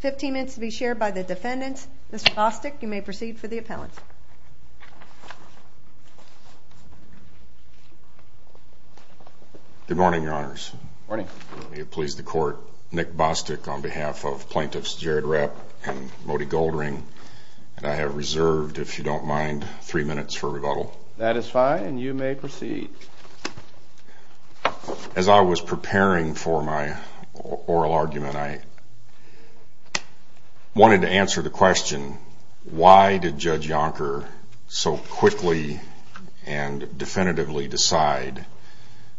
15 minutes to be shared by the defendants. Mr. Bostick, you may proceed for the appellant. Good morning, Your Honors. Good morning. May it please the Court, Nick Bostick on behalf of Plaintiffs Jared Rapp and Mody Goldring, if you don't mind, three minutes for rebuttal. That is fine, and you may proceed. As I was preparing for my oral argument, I wanted to answer the question, why did Judge Yonker so quickly and definitively decide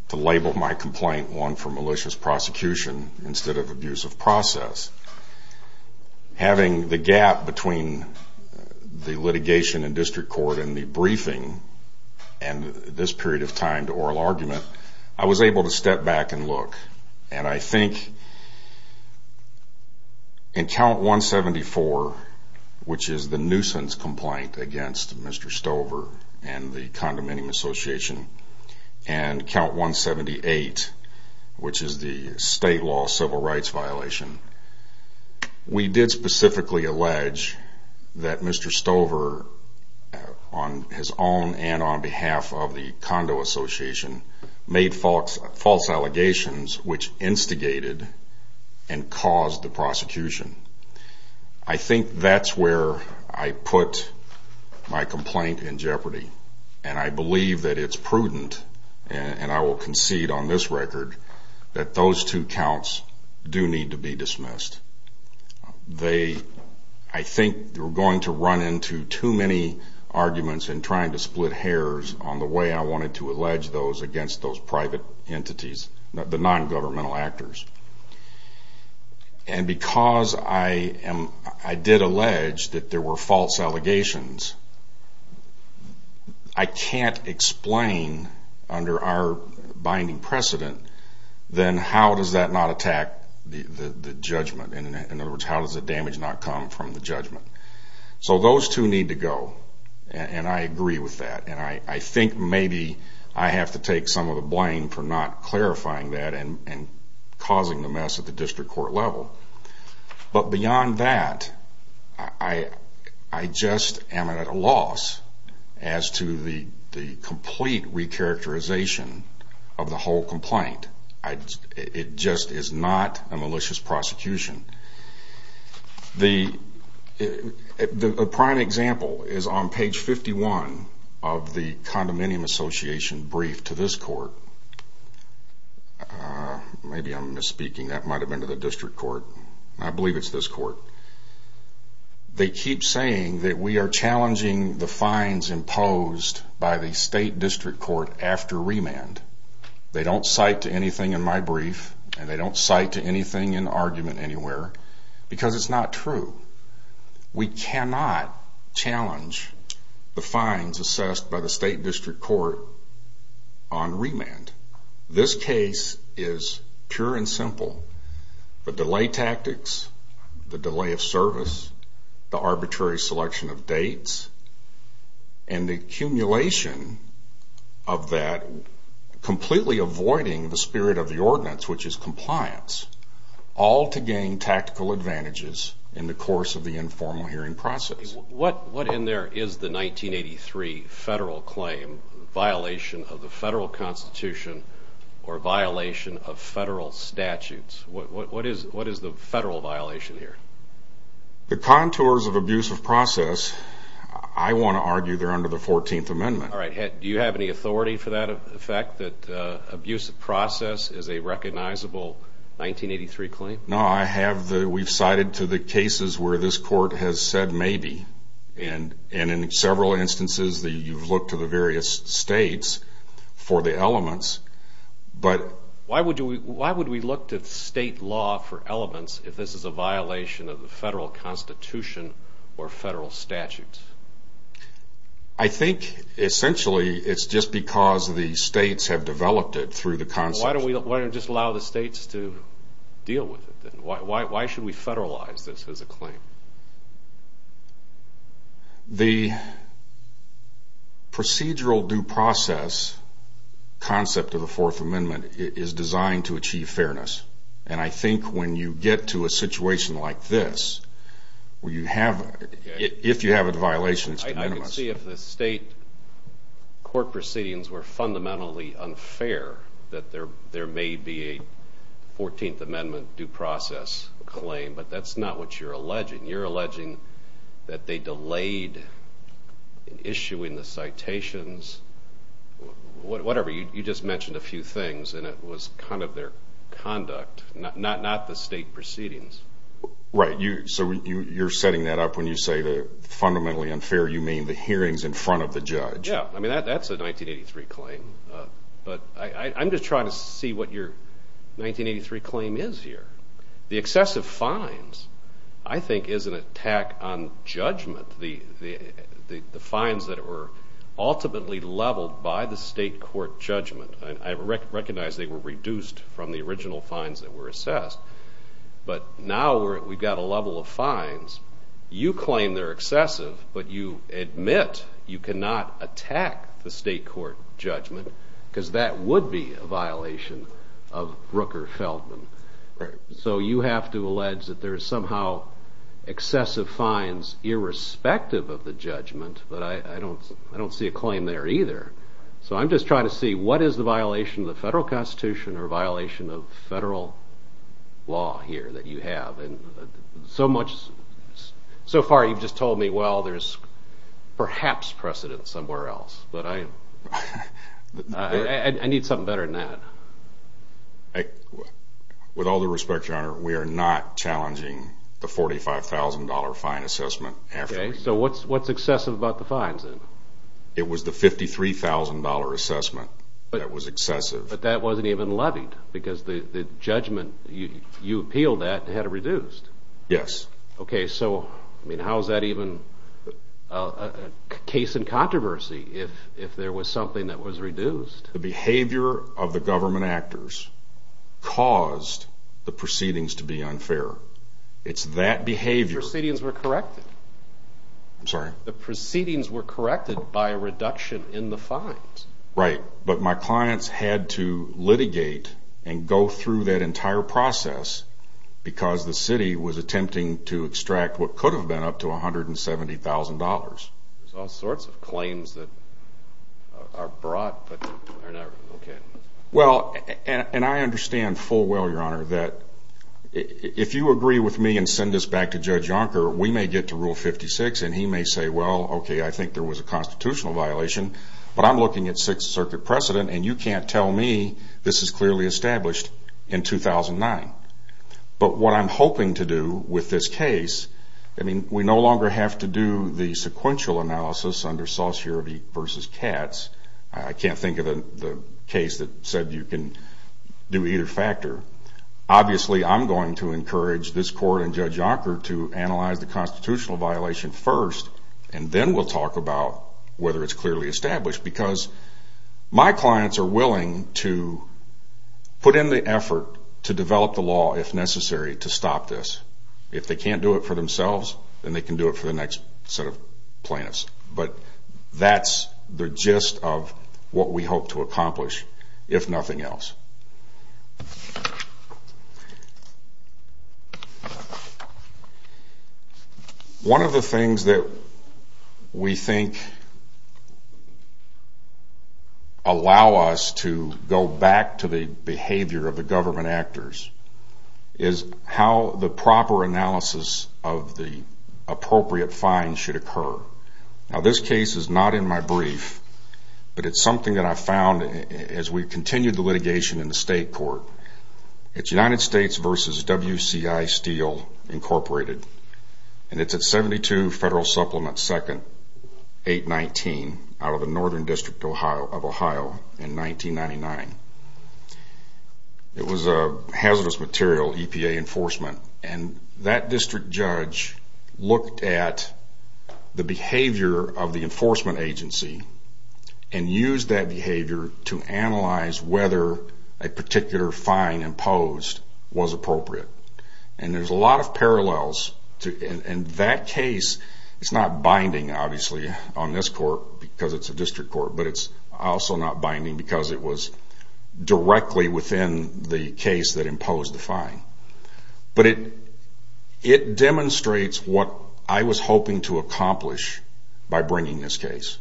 to label my complaint one for malicious prosecution instead of abusive process? Having the gap between the litigation in district court and the briefing and this period of time to oral argument, I was able to step back and look, and I think in Count 174, which is the nuisance complaint against Mr. Stover and the Condominium Association, and Count 178, which is the state law civil rights violation, I was able to step back and look. We did specifically allege that Mr. Stover, on his own and on behalf of the Condominium Association, made false allegations which instigated and caused the prosecution. I think that's where I put my complaint in jeopardy, and I believe that it's prudent, and I will concede on this record, that those two counts do need to be dismissed. They, I think, were going to run into too many arguments and trying to split hairs on the way I wanted to allege those against those private entities, the non-governmental actors. And because I did allege that there were false allegations, I can't explain under our binding precedent, then how does that not attack the judgment? In other words, how does the damage not come from the judgment? So those two need to go, and I agree with that. And I think maybe I have to take some of the blame for not clarifying that and causing the mess at the district court level. But beyond that, I just am at a loss as to the complete recharacterization of the whole complaint. It just is not a malicious prosecution. The prime example is on page 51 of the condominium association brief to this court. Maybe I'm misspeaking. That might have been to the district court. I believe it's this court. They keep saying that we are challenging the fines imposed by the state district court after remand. They don't cite to anything in my brief, and they don't cite to anything in argument anywhere, because it's not true. We cannot challenge the fines assessed by the state district court on remand. This case is pure and simple. The delay tactics, the delay of service, the arbitrary selection of dates, and the accumulation of that completely avoiding the spirit of the ordinance, which is compliance, all to gain tactical advantages in the course of the informal hearing process. What in there is the 1983 federal claim violation of the federal constitution or violation of federal statutes? What is the federal violation here? I want to argue they're under the 14th amendment. Do you have any authority for that effect, that abuse of process is a recognizable 1983 claim? No, we've cited to the cases where this court has said maybe, and in several instances you've looked to the various states for the elements. Why would we look to state law for elements if this is a violation of the federal constitution or federal statutes? I think essentially it's just because the states have developed it through the concept. Why don't we just allow the states to deal with it? Why should we federalize this as a claim? The procedural due process concept of the fourth amendment is designed to achieve fairness, and I think when you get to a situation like this, if you have a violation, it's de minimis. I can see if the state court proceedings were fundamentally unfair, that there may be a 14th amendment due process claim, but that's not what you're alleging. You're alleging that they delayed issuing the citations. Whatever, you just mentioned a few things, and it was kind of their conduct, not the state proceedings. Right, so you're setting that up when you say that fundamentally unfair, you mean the hearings in front of the judge. Yeah, that's a 1983 claim, but I'm just trying to see what your 1983 claim is here. The excessive fines, I think, is an attack on judgment. The fines that were ultimately leveled by the state court judgment. I recognize they were reduced from the original fines that were assessed, but now we've got a level of fines. You claim they're excessive, but you admit you cannot attack the state court judgment because that would be a violation of Rooker-Feldman. So you have to allege that there's somehow excessive fines irrespective of the judgment, but I don't see a claim there either. So I'm just trying to see what is the violation of the federal constitution or violation of federal law here that you have. So far you've just told me, well, there's perhaps precedent somewhere else, but I need something better than that. With all due respect, Your Honor, we are not challenging the $45,000 fine assessment. Okay, so what's excessive about the fines then? It was the $53,000 assessment that was excessive. But that wasn't even levied because the judgment you appealed at had it reduced. Yes. Okay, so how is that even a case in controversy if there was something that was reduced? The behavior of the government actors caused the proceedings to be unfair. It's that behavior. The proceedings were corrected. I'm sorry? The proceedings were corrected by a reduction in the fines. Right, but my clients had to litigate and go through that entire process because the city was attempting to extract what could have been up to $170,000. There's all sorts of claims that are brought, but they're not really looking. Well, and I understand full well, Your Honor, that if you agree with me and send this back to Judge Yonker, we may get to Rule 56 and he may say, well, okay, I think there was a constitutional violation, but I'm looking at Sixth Circuit precedent and you can't tell me this is clearly established in 2009. But what I'm hoping to do with this case, I mean we no longer have to do the sequential analysis under Saussure v. Katz. I can't think of a case that said you can do either factor. Obviously, I'm going to encourage this Court and Judge Yonker to analyze the constitutional violation first, and then we'll talk about whether it's clearly established because my clients are willing to put in the effort to develop the law, if necessary, to stop this. If they can't do it for themselves, then they can do it for the next set of plaintiffs. But that's the gist of what we hope to accomplish, if nothing else. One of the things that we think allow us to go back to the behavior of the government actors is how the proper analysis of the appropriate fines should occur. Now, this case is not in my brief, but it's something that I found as we continued the litigation in the state court. It's United States v. WCI Steel, Inc., and it's at 72 Federal Supplement 2nd, 819, out of the Northern District of Ohio in 1999. It was a hazardous material, EPA enforcement, and that district judge looked at the behavior of the enforcement agency and used that behavior to analyze whether a particular fine imposed was appropriate. And there's a lot of parallels. In that case, it's not binding, obviously, on this court because it's a district court, but it's also not binding because it was directly within the case that imposed the fine. But it demonstrates what I was hoping to accomplish by bringing this case.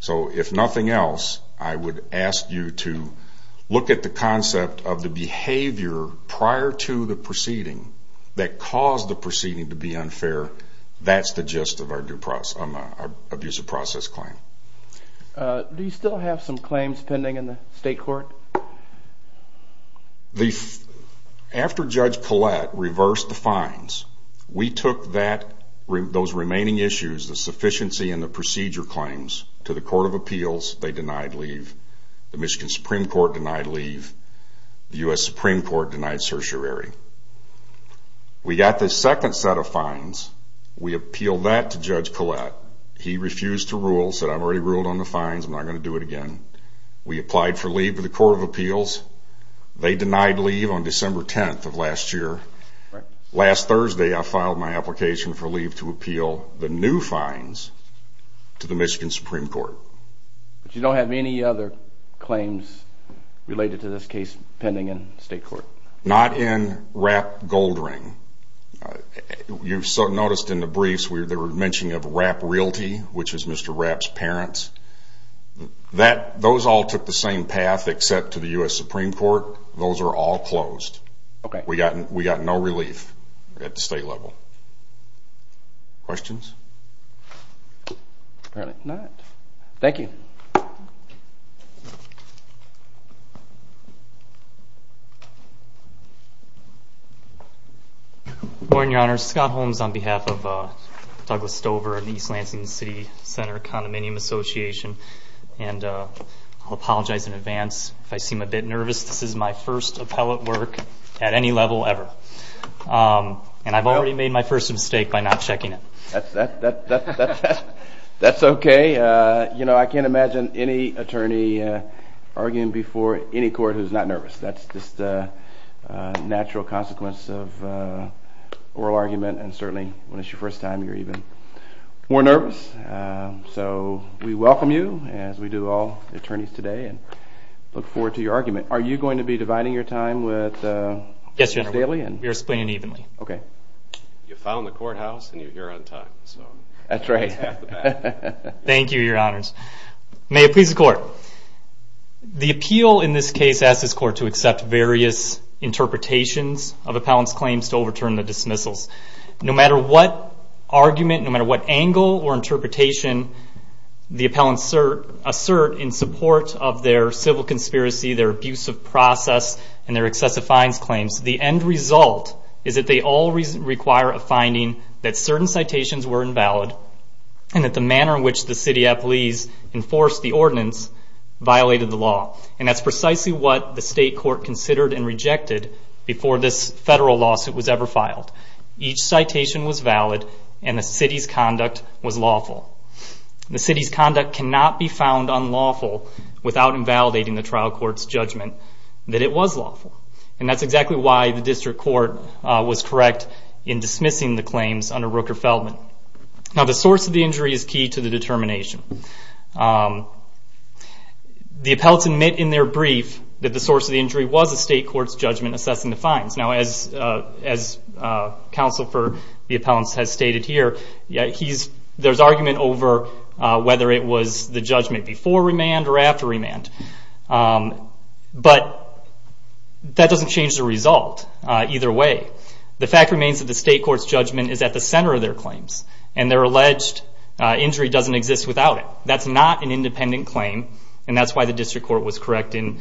So if nothing else, I would ask you to look at the concept of the behavior prior to the proceeding that caused the proceeding to be unfair. That's the gist of our abuse of process claim. Do you still have some claims pending in the state court? After Judge Collette reversed the fines, we took those remaining issues, the sufficiency and the procedure claims, to the Court of Appeals. They denied leave. The Michigan Supreme Court denied leave. The U.S. Supreme Court denied certiorari. We got the second set of fines. We appealed that to Judge Collette. He refused to rule, said, I've already ruled on the fines. I'm not going to do it again. We applied for leave to the Court of Appeals. They denied leave on December 10th of last year. Last Thursday, I filed my application for leave to appeal the new fines to the Michigan Supreme Court. But you don't have any other claims related to this case pending in state court? Not in Rapp Goldring. You've noticed in the briefs they were mentioning of Rapp Realty, which is Mr. Rapp's parents. Those all took the same path except to the U.S. Supreme Court. Those are all closed. We got no relief at the state level. Questions? Thank you. Morning, Your Honor. Scott Holmes on behalf of Douglas Stover and the East Lansing City Center Condominium Association. And I'll apologize in advance if I seem a bit nervous. This is my first appellate work at any level ever. And I've already made my first mistake by not checking it. That's okay. You know, I can't imagine any attorney arguing before any court who's not nervous. That's just a natural consequence of oral argument. And certainly when it's your first time, you're even more nervous. So we welcome you, as we do all attorneys today, and look forward to your argument. Are you going to be dividing your time daily? Yes, Your Honor. We are splitting it evenly. Okay. You found the courthouse, and you're here on time. That's right. Thank you, Your Honors. May it please the Court. The appeal in this case asks this Court to accept various interpretations of appellants' claims to overturn the dismissals. No matter what argument, no matter what angle or interpretation the appellants assert in support of their civil conspiracy, their abusive process, and their excessive fines claims, the end result is that they all require a finding that certain citations were invalid and that the manner in which the city appellees enforced the ordinance violated the law. And that's precisely what the state court considered and rejected before this federal lawsuit was ever filed. Each citation was valid, and the city's conduct was lawful. The city's conduct cannot be found unlawful without invalidating the trial court's judgment that it was lawful. And that's exactly why the district court was correct in dismissing the claims under Rooker-Feldman. Now, the source of the injury is key to the determination. The appellants admit in their brief that the source of the injury was the state court's judgment assessing the fines. Now, as Counsel for the Appellants has stated here, there's argument over whether it was the judgment before remand or after remand. But that doesn't change the result either way. The fact remains that the state court's judgment is at the center of their claims, and their alleged injury doesn't exist without it. That's not an independent claim, and that's why the district court was correct in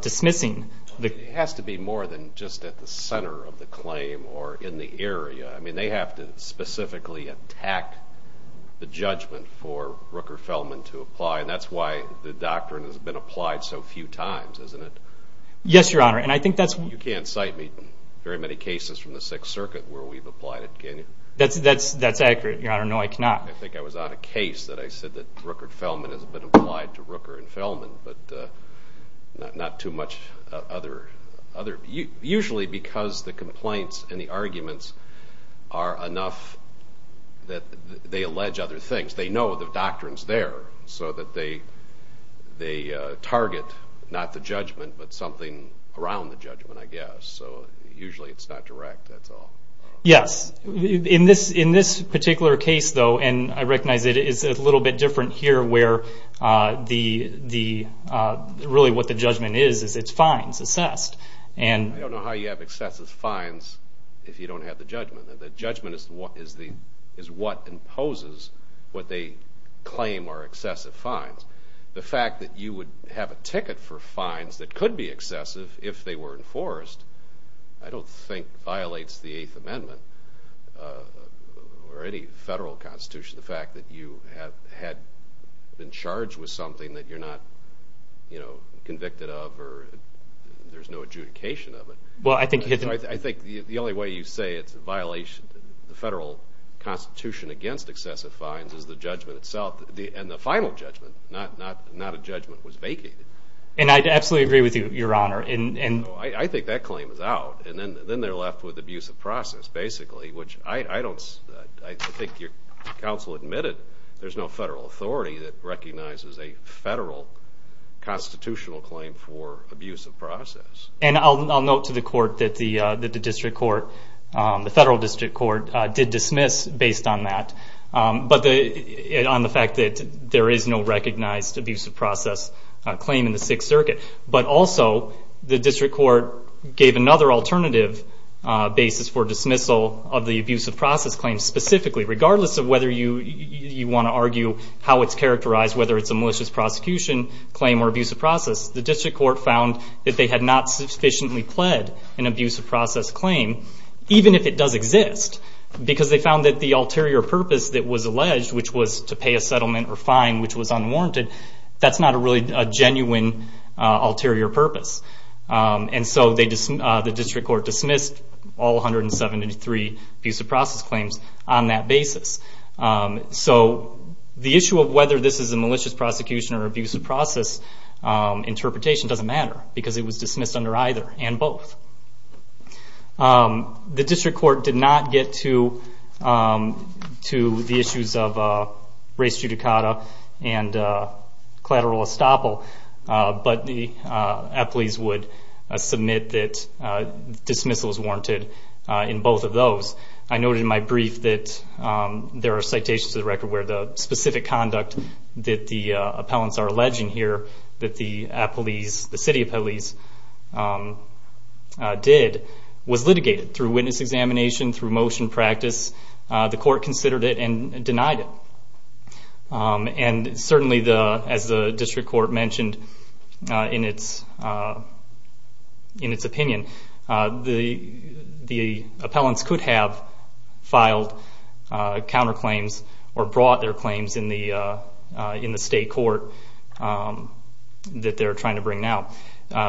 dismissing. It has to be more than just at the center of the claim or in the area. I mean, they have to specifically attack the judgment for Rooker-Feldman to apply, and that's why the doctrine has been applied so few times, isn't it? Yes, Your Honor. You can't cite me very many cases from the Sixth Circuit where we've applied it, can you? That's accurate, Your Honor. No, I cannot. I think I was on a case that I said that Rooker-Feldman has been applied to Rooker-Feldman, but not too much other. Usually because the complaints and the arguments are enough that they allege other things. At least they know the doctrine's there so that they target not the judgment but something around the judgment, I guess. Usually it's not direct, that's all. Yes. In this particular case, though, and I recognize it is a little bit different here where really what the judgment is, is it's fines assessed. I don't know how you have excessive fines if you don't have the judgment. The judgment is what imposes what they claim are excessive fines. The fact that you would have a ticket for fines that could be excessive if they were enforced, I don't think violates the Eighth Amendment or any federal constitution. The fact that you had been charged with something that you're not convicted of or there's no adjudication of it. I think the only way you say it's a violation of the federal constitution against excessive fines is the judgment itself, and the final judgment, not a judgment that was vacated. I absolutely agree with you, Your Honor. I think that claim is out. Then they're left with abuse of process, basically, which I think your counsel admitted there's no federal authority that recognizes a federal constitutional claim for abuse of process. I'll note to the court that the federal district court did dismiss based on that, but on the fact that there is no recognized abuse of process claim in the Sixth Circuit. Also, the district court gave another alternative basis for dismissal of the abuse of process claim specifically. Regardless of whether you want to argue how it's characterized, whether it's a malicious prosecution claim or abuse of process, the district court found that they had not sufficiently pled an abuse of process claim, even if it does exist, because they found that the ulterior purpose that was alleged, which was to pay a settlement or fine which was unwarranted, that's not really a genuine ulterior purpose. So the district court dismissed all 173 abuse of process claims on that basis. So the issue of whether this is a malicious prosecution or abuse of process interpretation doesn't matter, because it was dismissed under either and both. The district court did not get to the issues of race judicata and collateral estoppel, but the appellees would submit that dismissal is warranted in both of those. I noted in my brief that there are citations to the record where the specific conduct that the appellants are alleging here that the city appellees did was litigated through witness examination, through motion practice. The court considered it and denied it. Certainly, as the district court mentioned in its opinion, the appellants could have filed counterclaims or brought their claims in the state court that they're trying to bring now.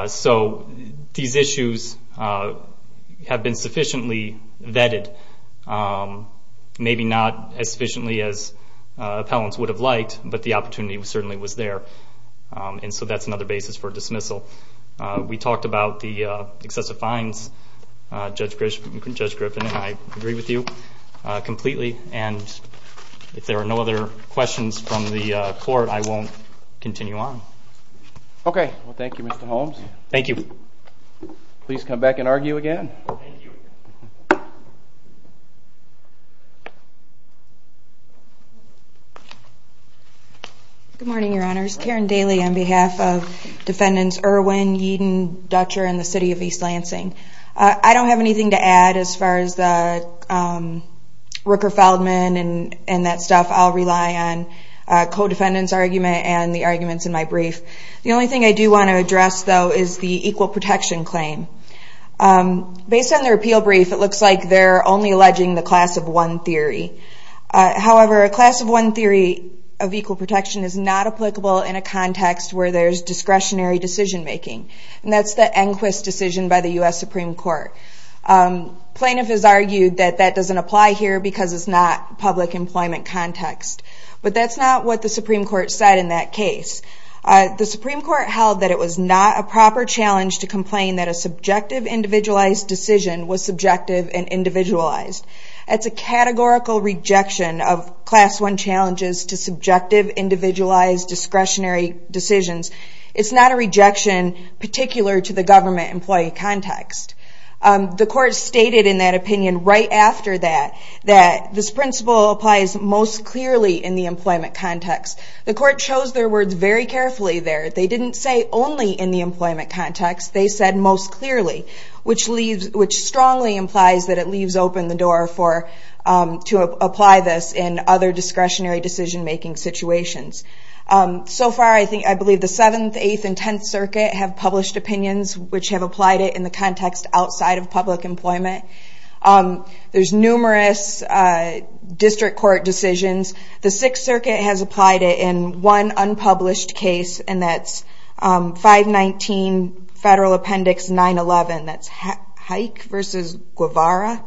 So these issues have been sufficiently vetted, maybe not as sufficiently as appellants would have liked, but the opportunity certainly was there. And so that's another basis for dismissal. We talked about the excessive fines, Judge Griffin, and I agree with you completely. And if there are no other questions from the court, I won't continue on. Okay. Well, thank you, Mr. Holmes. Thank you. Please come back and argue again. Thank you. Good morning, Your Honors. Karen Daly on behalf of Defendants Irwin, Yeadon, Dutcher, and the City of East Lansing. I don't have anything to add as far as the Rooker-Feldman and that stuff. I'll rely on a co-defendant's argument and the arguments in my brief. The only thing I do want to address, though, is the equal protection claim. Based on the repeal brief, it looks like they're only alleging the class of one theory. However, a class of one theory of equal protection is not applicable in a context where there's discretionary decision-making. And that's the Enquist decision by the U.S. Supreme Court. Plaintiff has argued that that doesn't apply here because it's not public employment context. But that's not what the Supreme Court said in that case. The Supreme Court held that it was not a proper challenge to complain that a subjective, individualized decision was subjective and individualized. That's a categorical rejection of class one challenges to subjective, individualized, discretionary decisions. It's not a rejection particular to the government employee context. The court stated in that opinion right after that, that this principle applies most clearly in the employment context. The court chose their words very carefully there. They didn't say only in the employment context. They said most clearly, which strongly implies that it leaves open the door to apply this in other discretionary decision-making situations. So far, I believe the 7th, 8th, and 10th Circuit have published opinions which have applied it in the context outside of public employment. There's numerous district court decisions. The 6th Circuit has applied it in one unpublished case, and that's 519 Federal Appendix 911. That's Haik versus Guevara.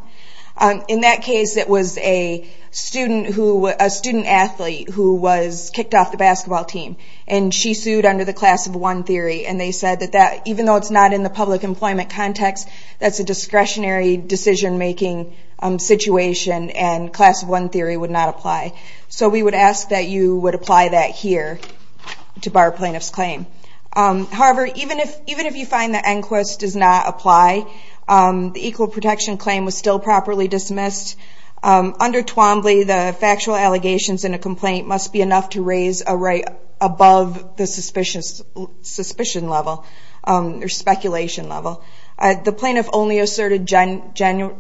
In that case, it was a student athlete who was kicked off the basketball team, and she sued under the class of one theory. And they said that even though it's not in the public employment context, that's a discretionary decision-making situation, and class one theory would not apply. So we would ask that you would apply that here to bar plaintiff's claim. However, even if you find that Enquist does not apply, the equal protection claim was still properly dismissed. Under Twombly, the factual allegations in a complaint must be enough to raise a right above the suspicion level or speculation level. The plaintiff only asserted general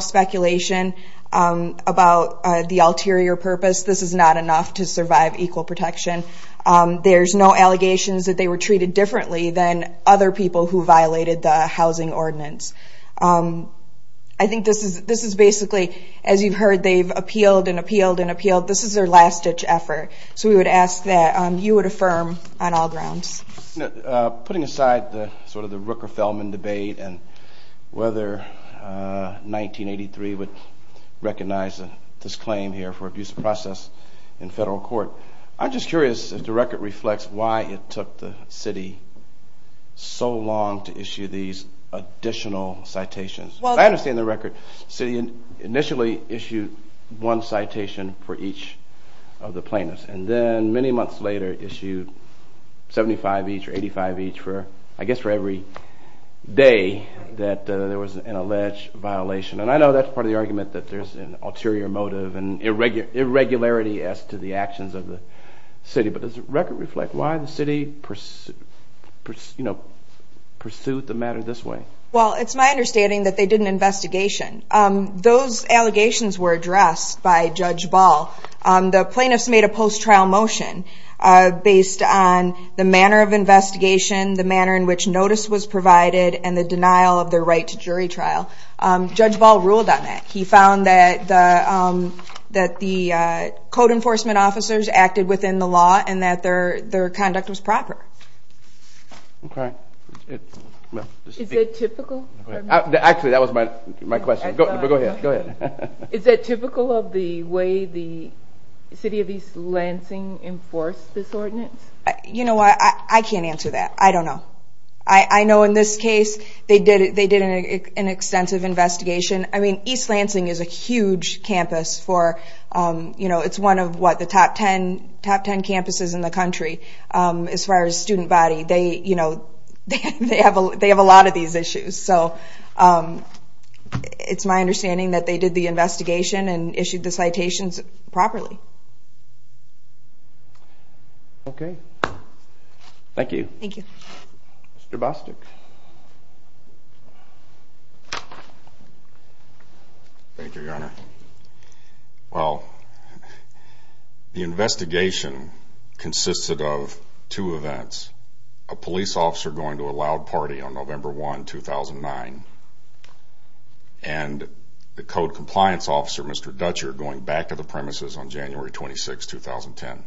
speculation about the ulterior purpose. This is not enough to survive equal protection. There's no allegations that they were treated differently than other people who violated the housing ordinance. I think this is basically, as you've heard, they've appealed and appealed and appealed. This is their last-ditch effort. So we would ask that you would affirm on all grounds. Putting aside sort of the Rooker-Feldman debate and whether 1983 would recognize this claim here for abuse of process in federal court, I'm just curious if the record reflects why it took the city so long to issue these additional citations. I understand the record. The city initially issued one citation for each of the plaintiffs, and then many months later issued 75 each or 85 each for, I guess, for every day that there was an alleged violation. And I know that's part of the argument that there's an ulterior motive and irregularity as to the actions of the city, but does the record reflect why the city pursued the matter this way? Well, it's my understanding that they did an investigation. Those allegations were addressed by Judge Ball. The plaintiffs made a post-trial motion based on the manner of investigation, the manner in which notice was provided, and the denial of their right to jury trial. Judge Ball ruled on that. He found that the code enforcement officers acted within the law and that their conduct was proper. Okay. Is it typical? Actually, that was my question. Go ahead. Is it typical of the way the city of East Lansing enforced this ordinance? You know what? I can't answer that. I don't know. I know in this case they did an extensive investigation. I mean, East Lansing is a huge campus. It's one of, what, the top ten campuses in the country as far as student body. They have a lot of these issues. So it's my understanding that they did the investigation and issued the citations properly. Okay. Thank you. Thank you. Mr. Bostic. Thank you, Your Honor. Well, the investigation consisted of two events, a police officer going to a loud party on November 1, 2009, and the code compliance officer, Mr. Dutcher, going back to the premises on January 26, 2010.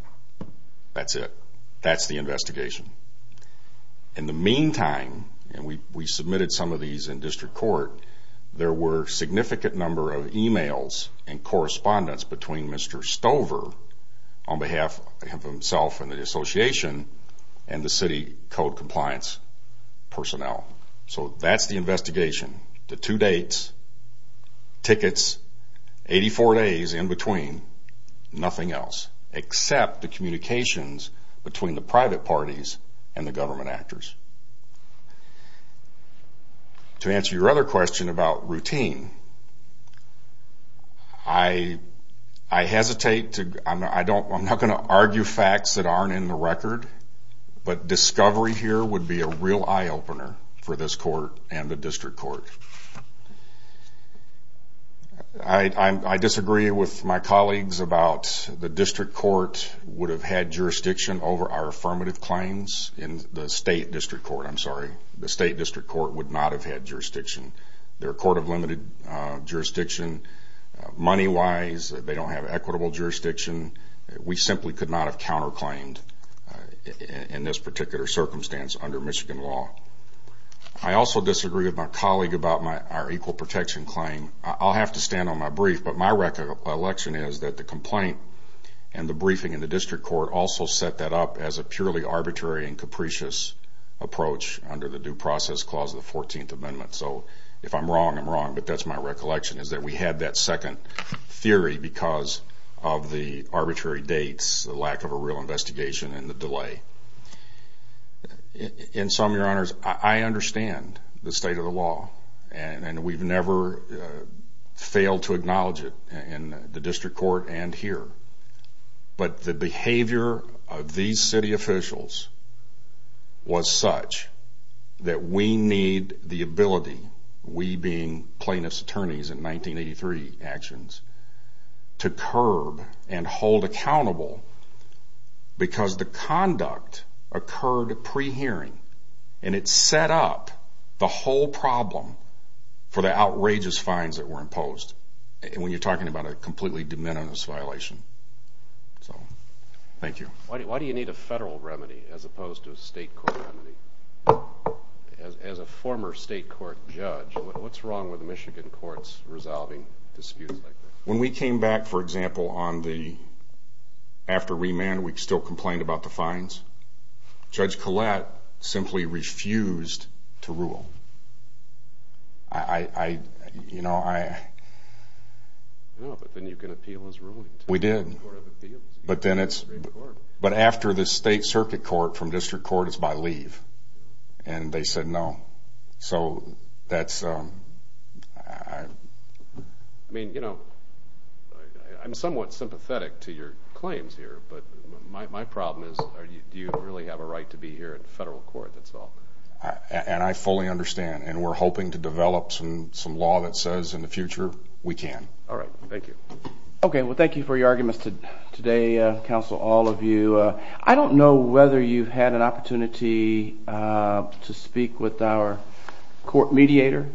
That's it. That's the investigation. In the meantime, and we submitted some of these in district court, there were significant number of e-mails and correspondence between Mr. Stover, on behalf of himself and the association, and the city code compliance personnel. So that's the investigation. The two dates, tickets, 84 days in between, nothing else, except the communications between the private parties and the government actors. To answer your other question about routine, I hesitate to, I'm not going to argue facts that aren't in the record, but discovery here would be a real eye-opener for this court and the district court. I disagree with my colleagues about the district court would have had jurisdiction over our affirmative claims in the state district court. I'm sorry, the state district court would not have had jurisdiction. They're a court of limited jurisdiction. Money-wise, they don't have equitable jurisdiction. We simply could not have counterclaimed in this particular circumstance under Michigan law. I also disagree with my colleague about our equal protection claim. I'll have to stand on my brief, but my recollection is that the complaint and the briefing in the district court also set that up as a purely arbitrary and capricious approach under the due process clause of the 14th Amendment. So if I'm wrong, I'm wrong, but that's my recollection, is that we had that second theory because of the arbitrary dates, the lack of a real investigation, and the delay. In sum, Your Honors, I understand the state of the law, and we've never failed to acknowledge it in the district court and here, but the behavior of these city officials was such that we need the ability, we being plaintiff's attorneys in 1983 actions, to curb and hold accountable because the conduct occurred pre-hearing, and it set up the whole problem for the outrageous fines that were imposed when you're talking about a completely de minimis violation. So thank you. Why do you need a federal remedy as opposed to a state court remedy? As a former state court judge, what's wrong with Michigan courts resolving disputes like this? When we came back, for example, after remand, we still complained about the fines. Judge Collette simply refused to rule. I, you know, I... No, but then you can appeal as ruling. We did, but then it's... But after the state circuit court from district court, it's by leave, and they said no. So that's... I mean, you know, I'm somewhat sympathetic to your claims here, but my problem is do you really have a right to be here at the federal court? And I fully understand, and we're hoping to develop some law that says in the future we can. All right, thank you. Okay, well, thank you for your arguments today, counsel, all of you. I don't know whether you've had an opportunity to speak with our court mediator,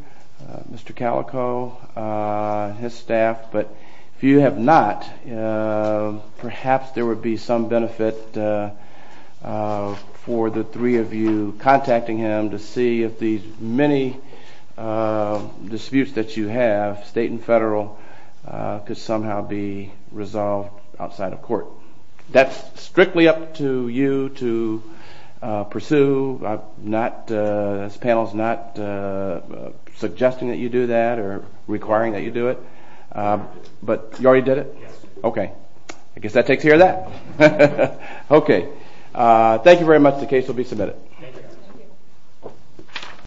Mr. Calico, his staff, but if you have not, perhaps there would be some benefit for the three of you contacting him to see if these many disputes that you have, state and federal, could somehow be resolved outside of court. That's strictly up to you to pursue. This panel is not suggesting that you do that or requiring that you do it. But you already did it? Yes. Okay. I guess that takes care of that. Okay. Thank you very much. The case will be submitted. Thank you.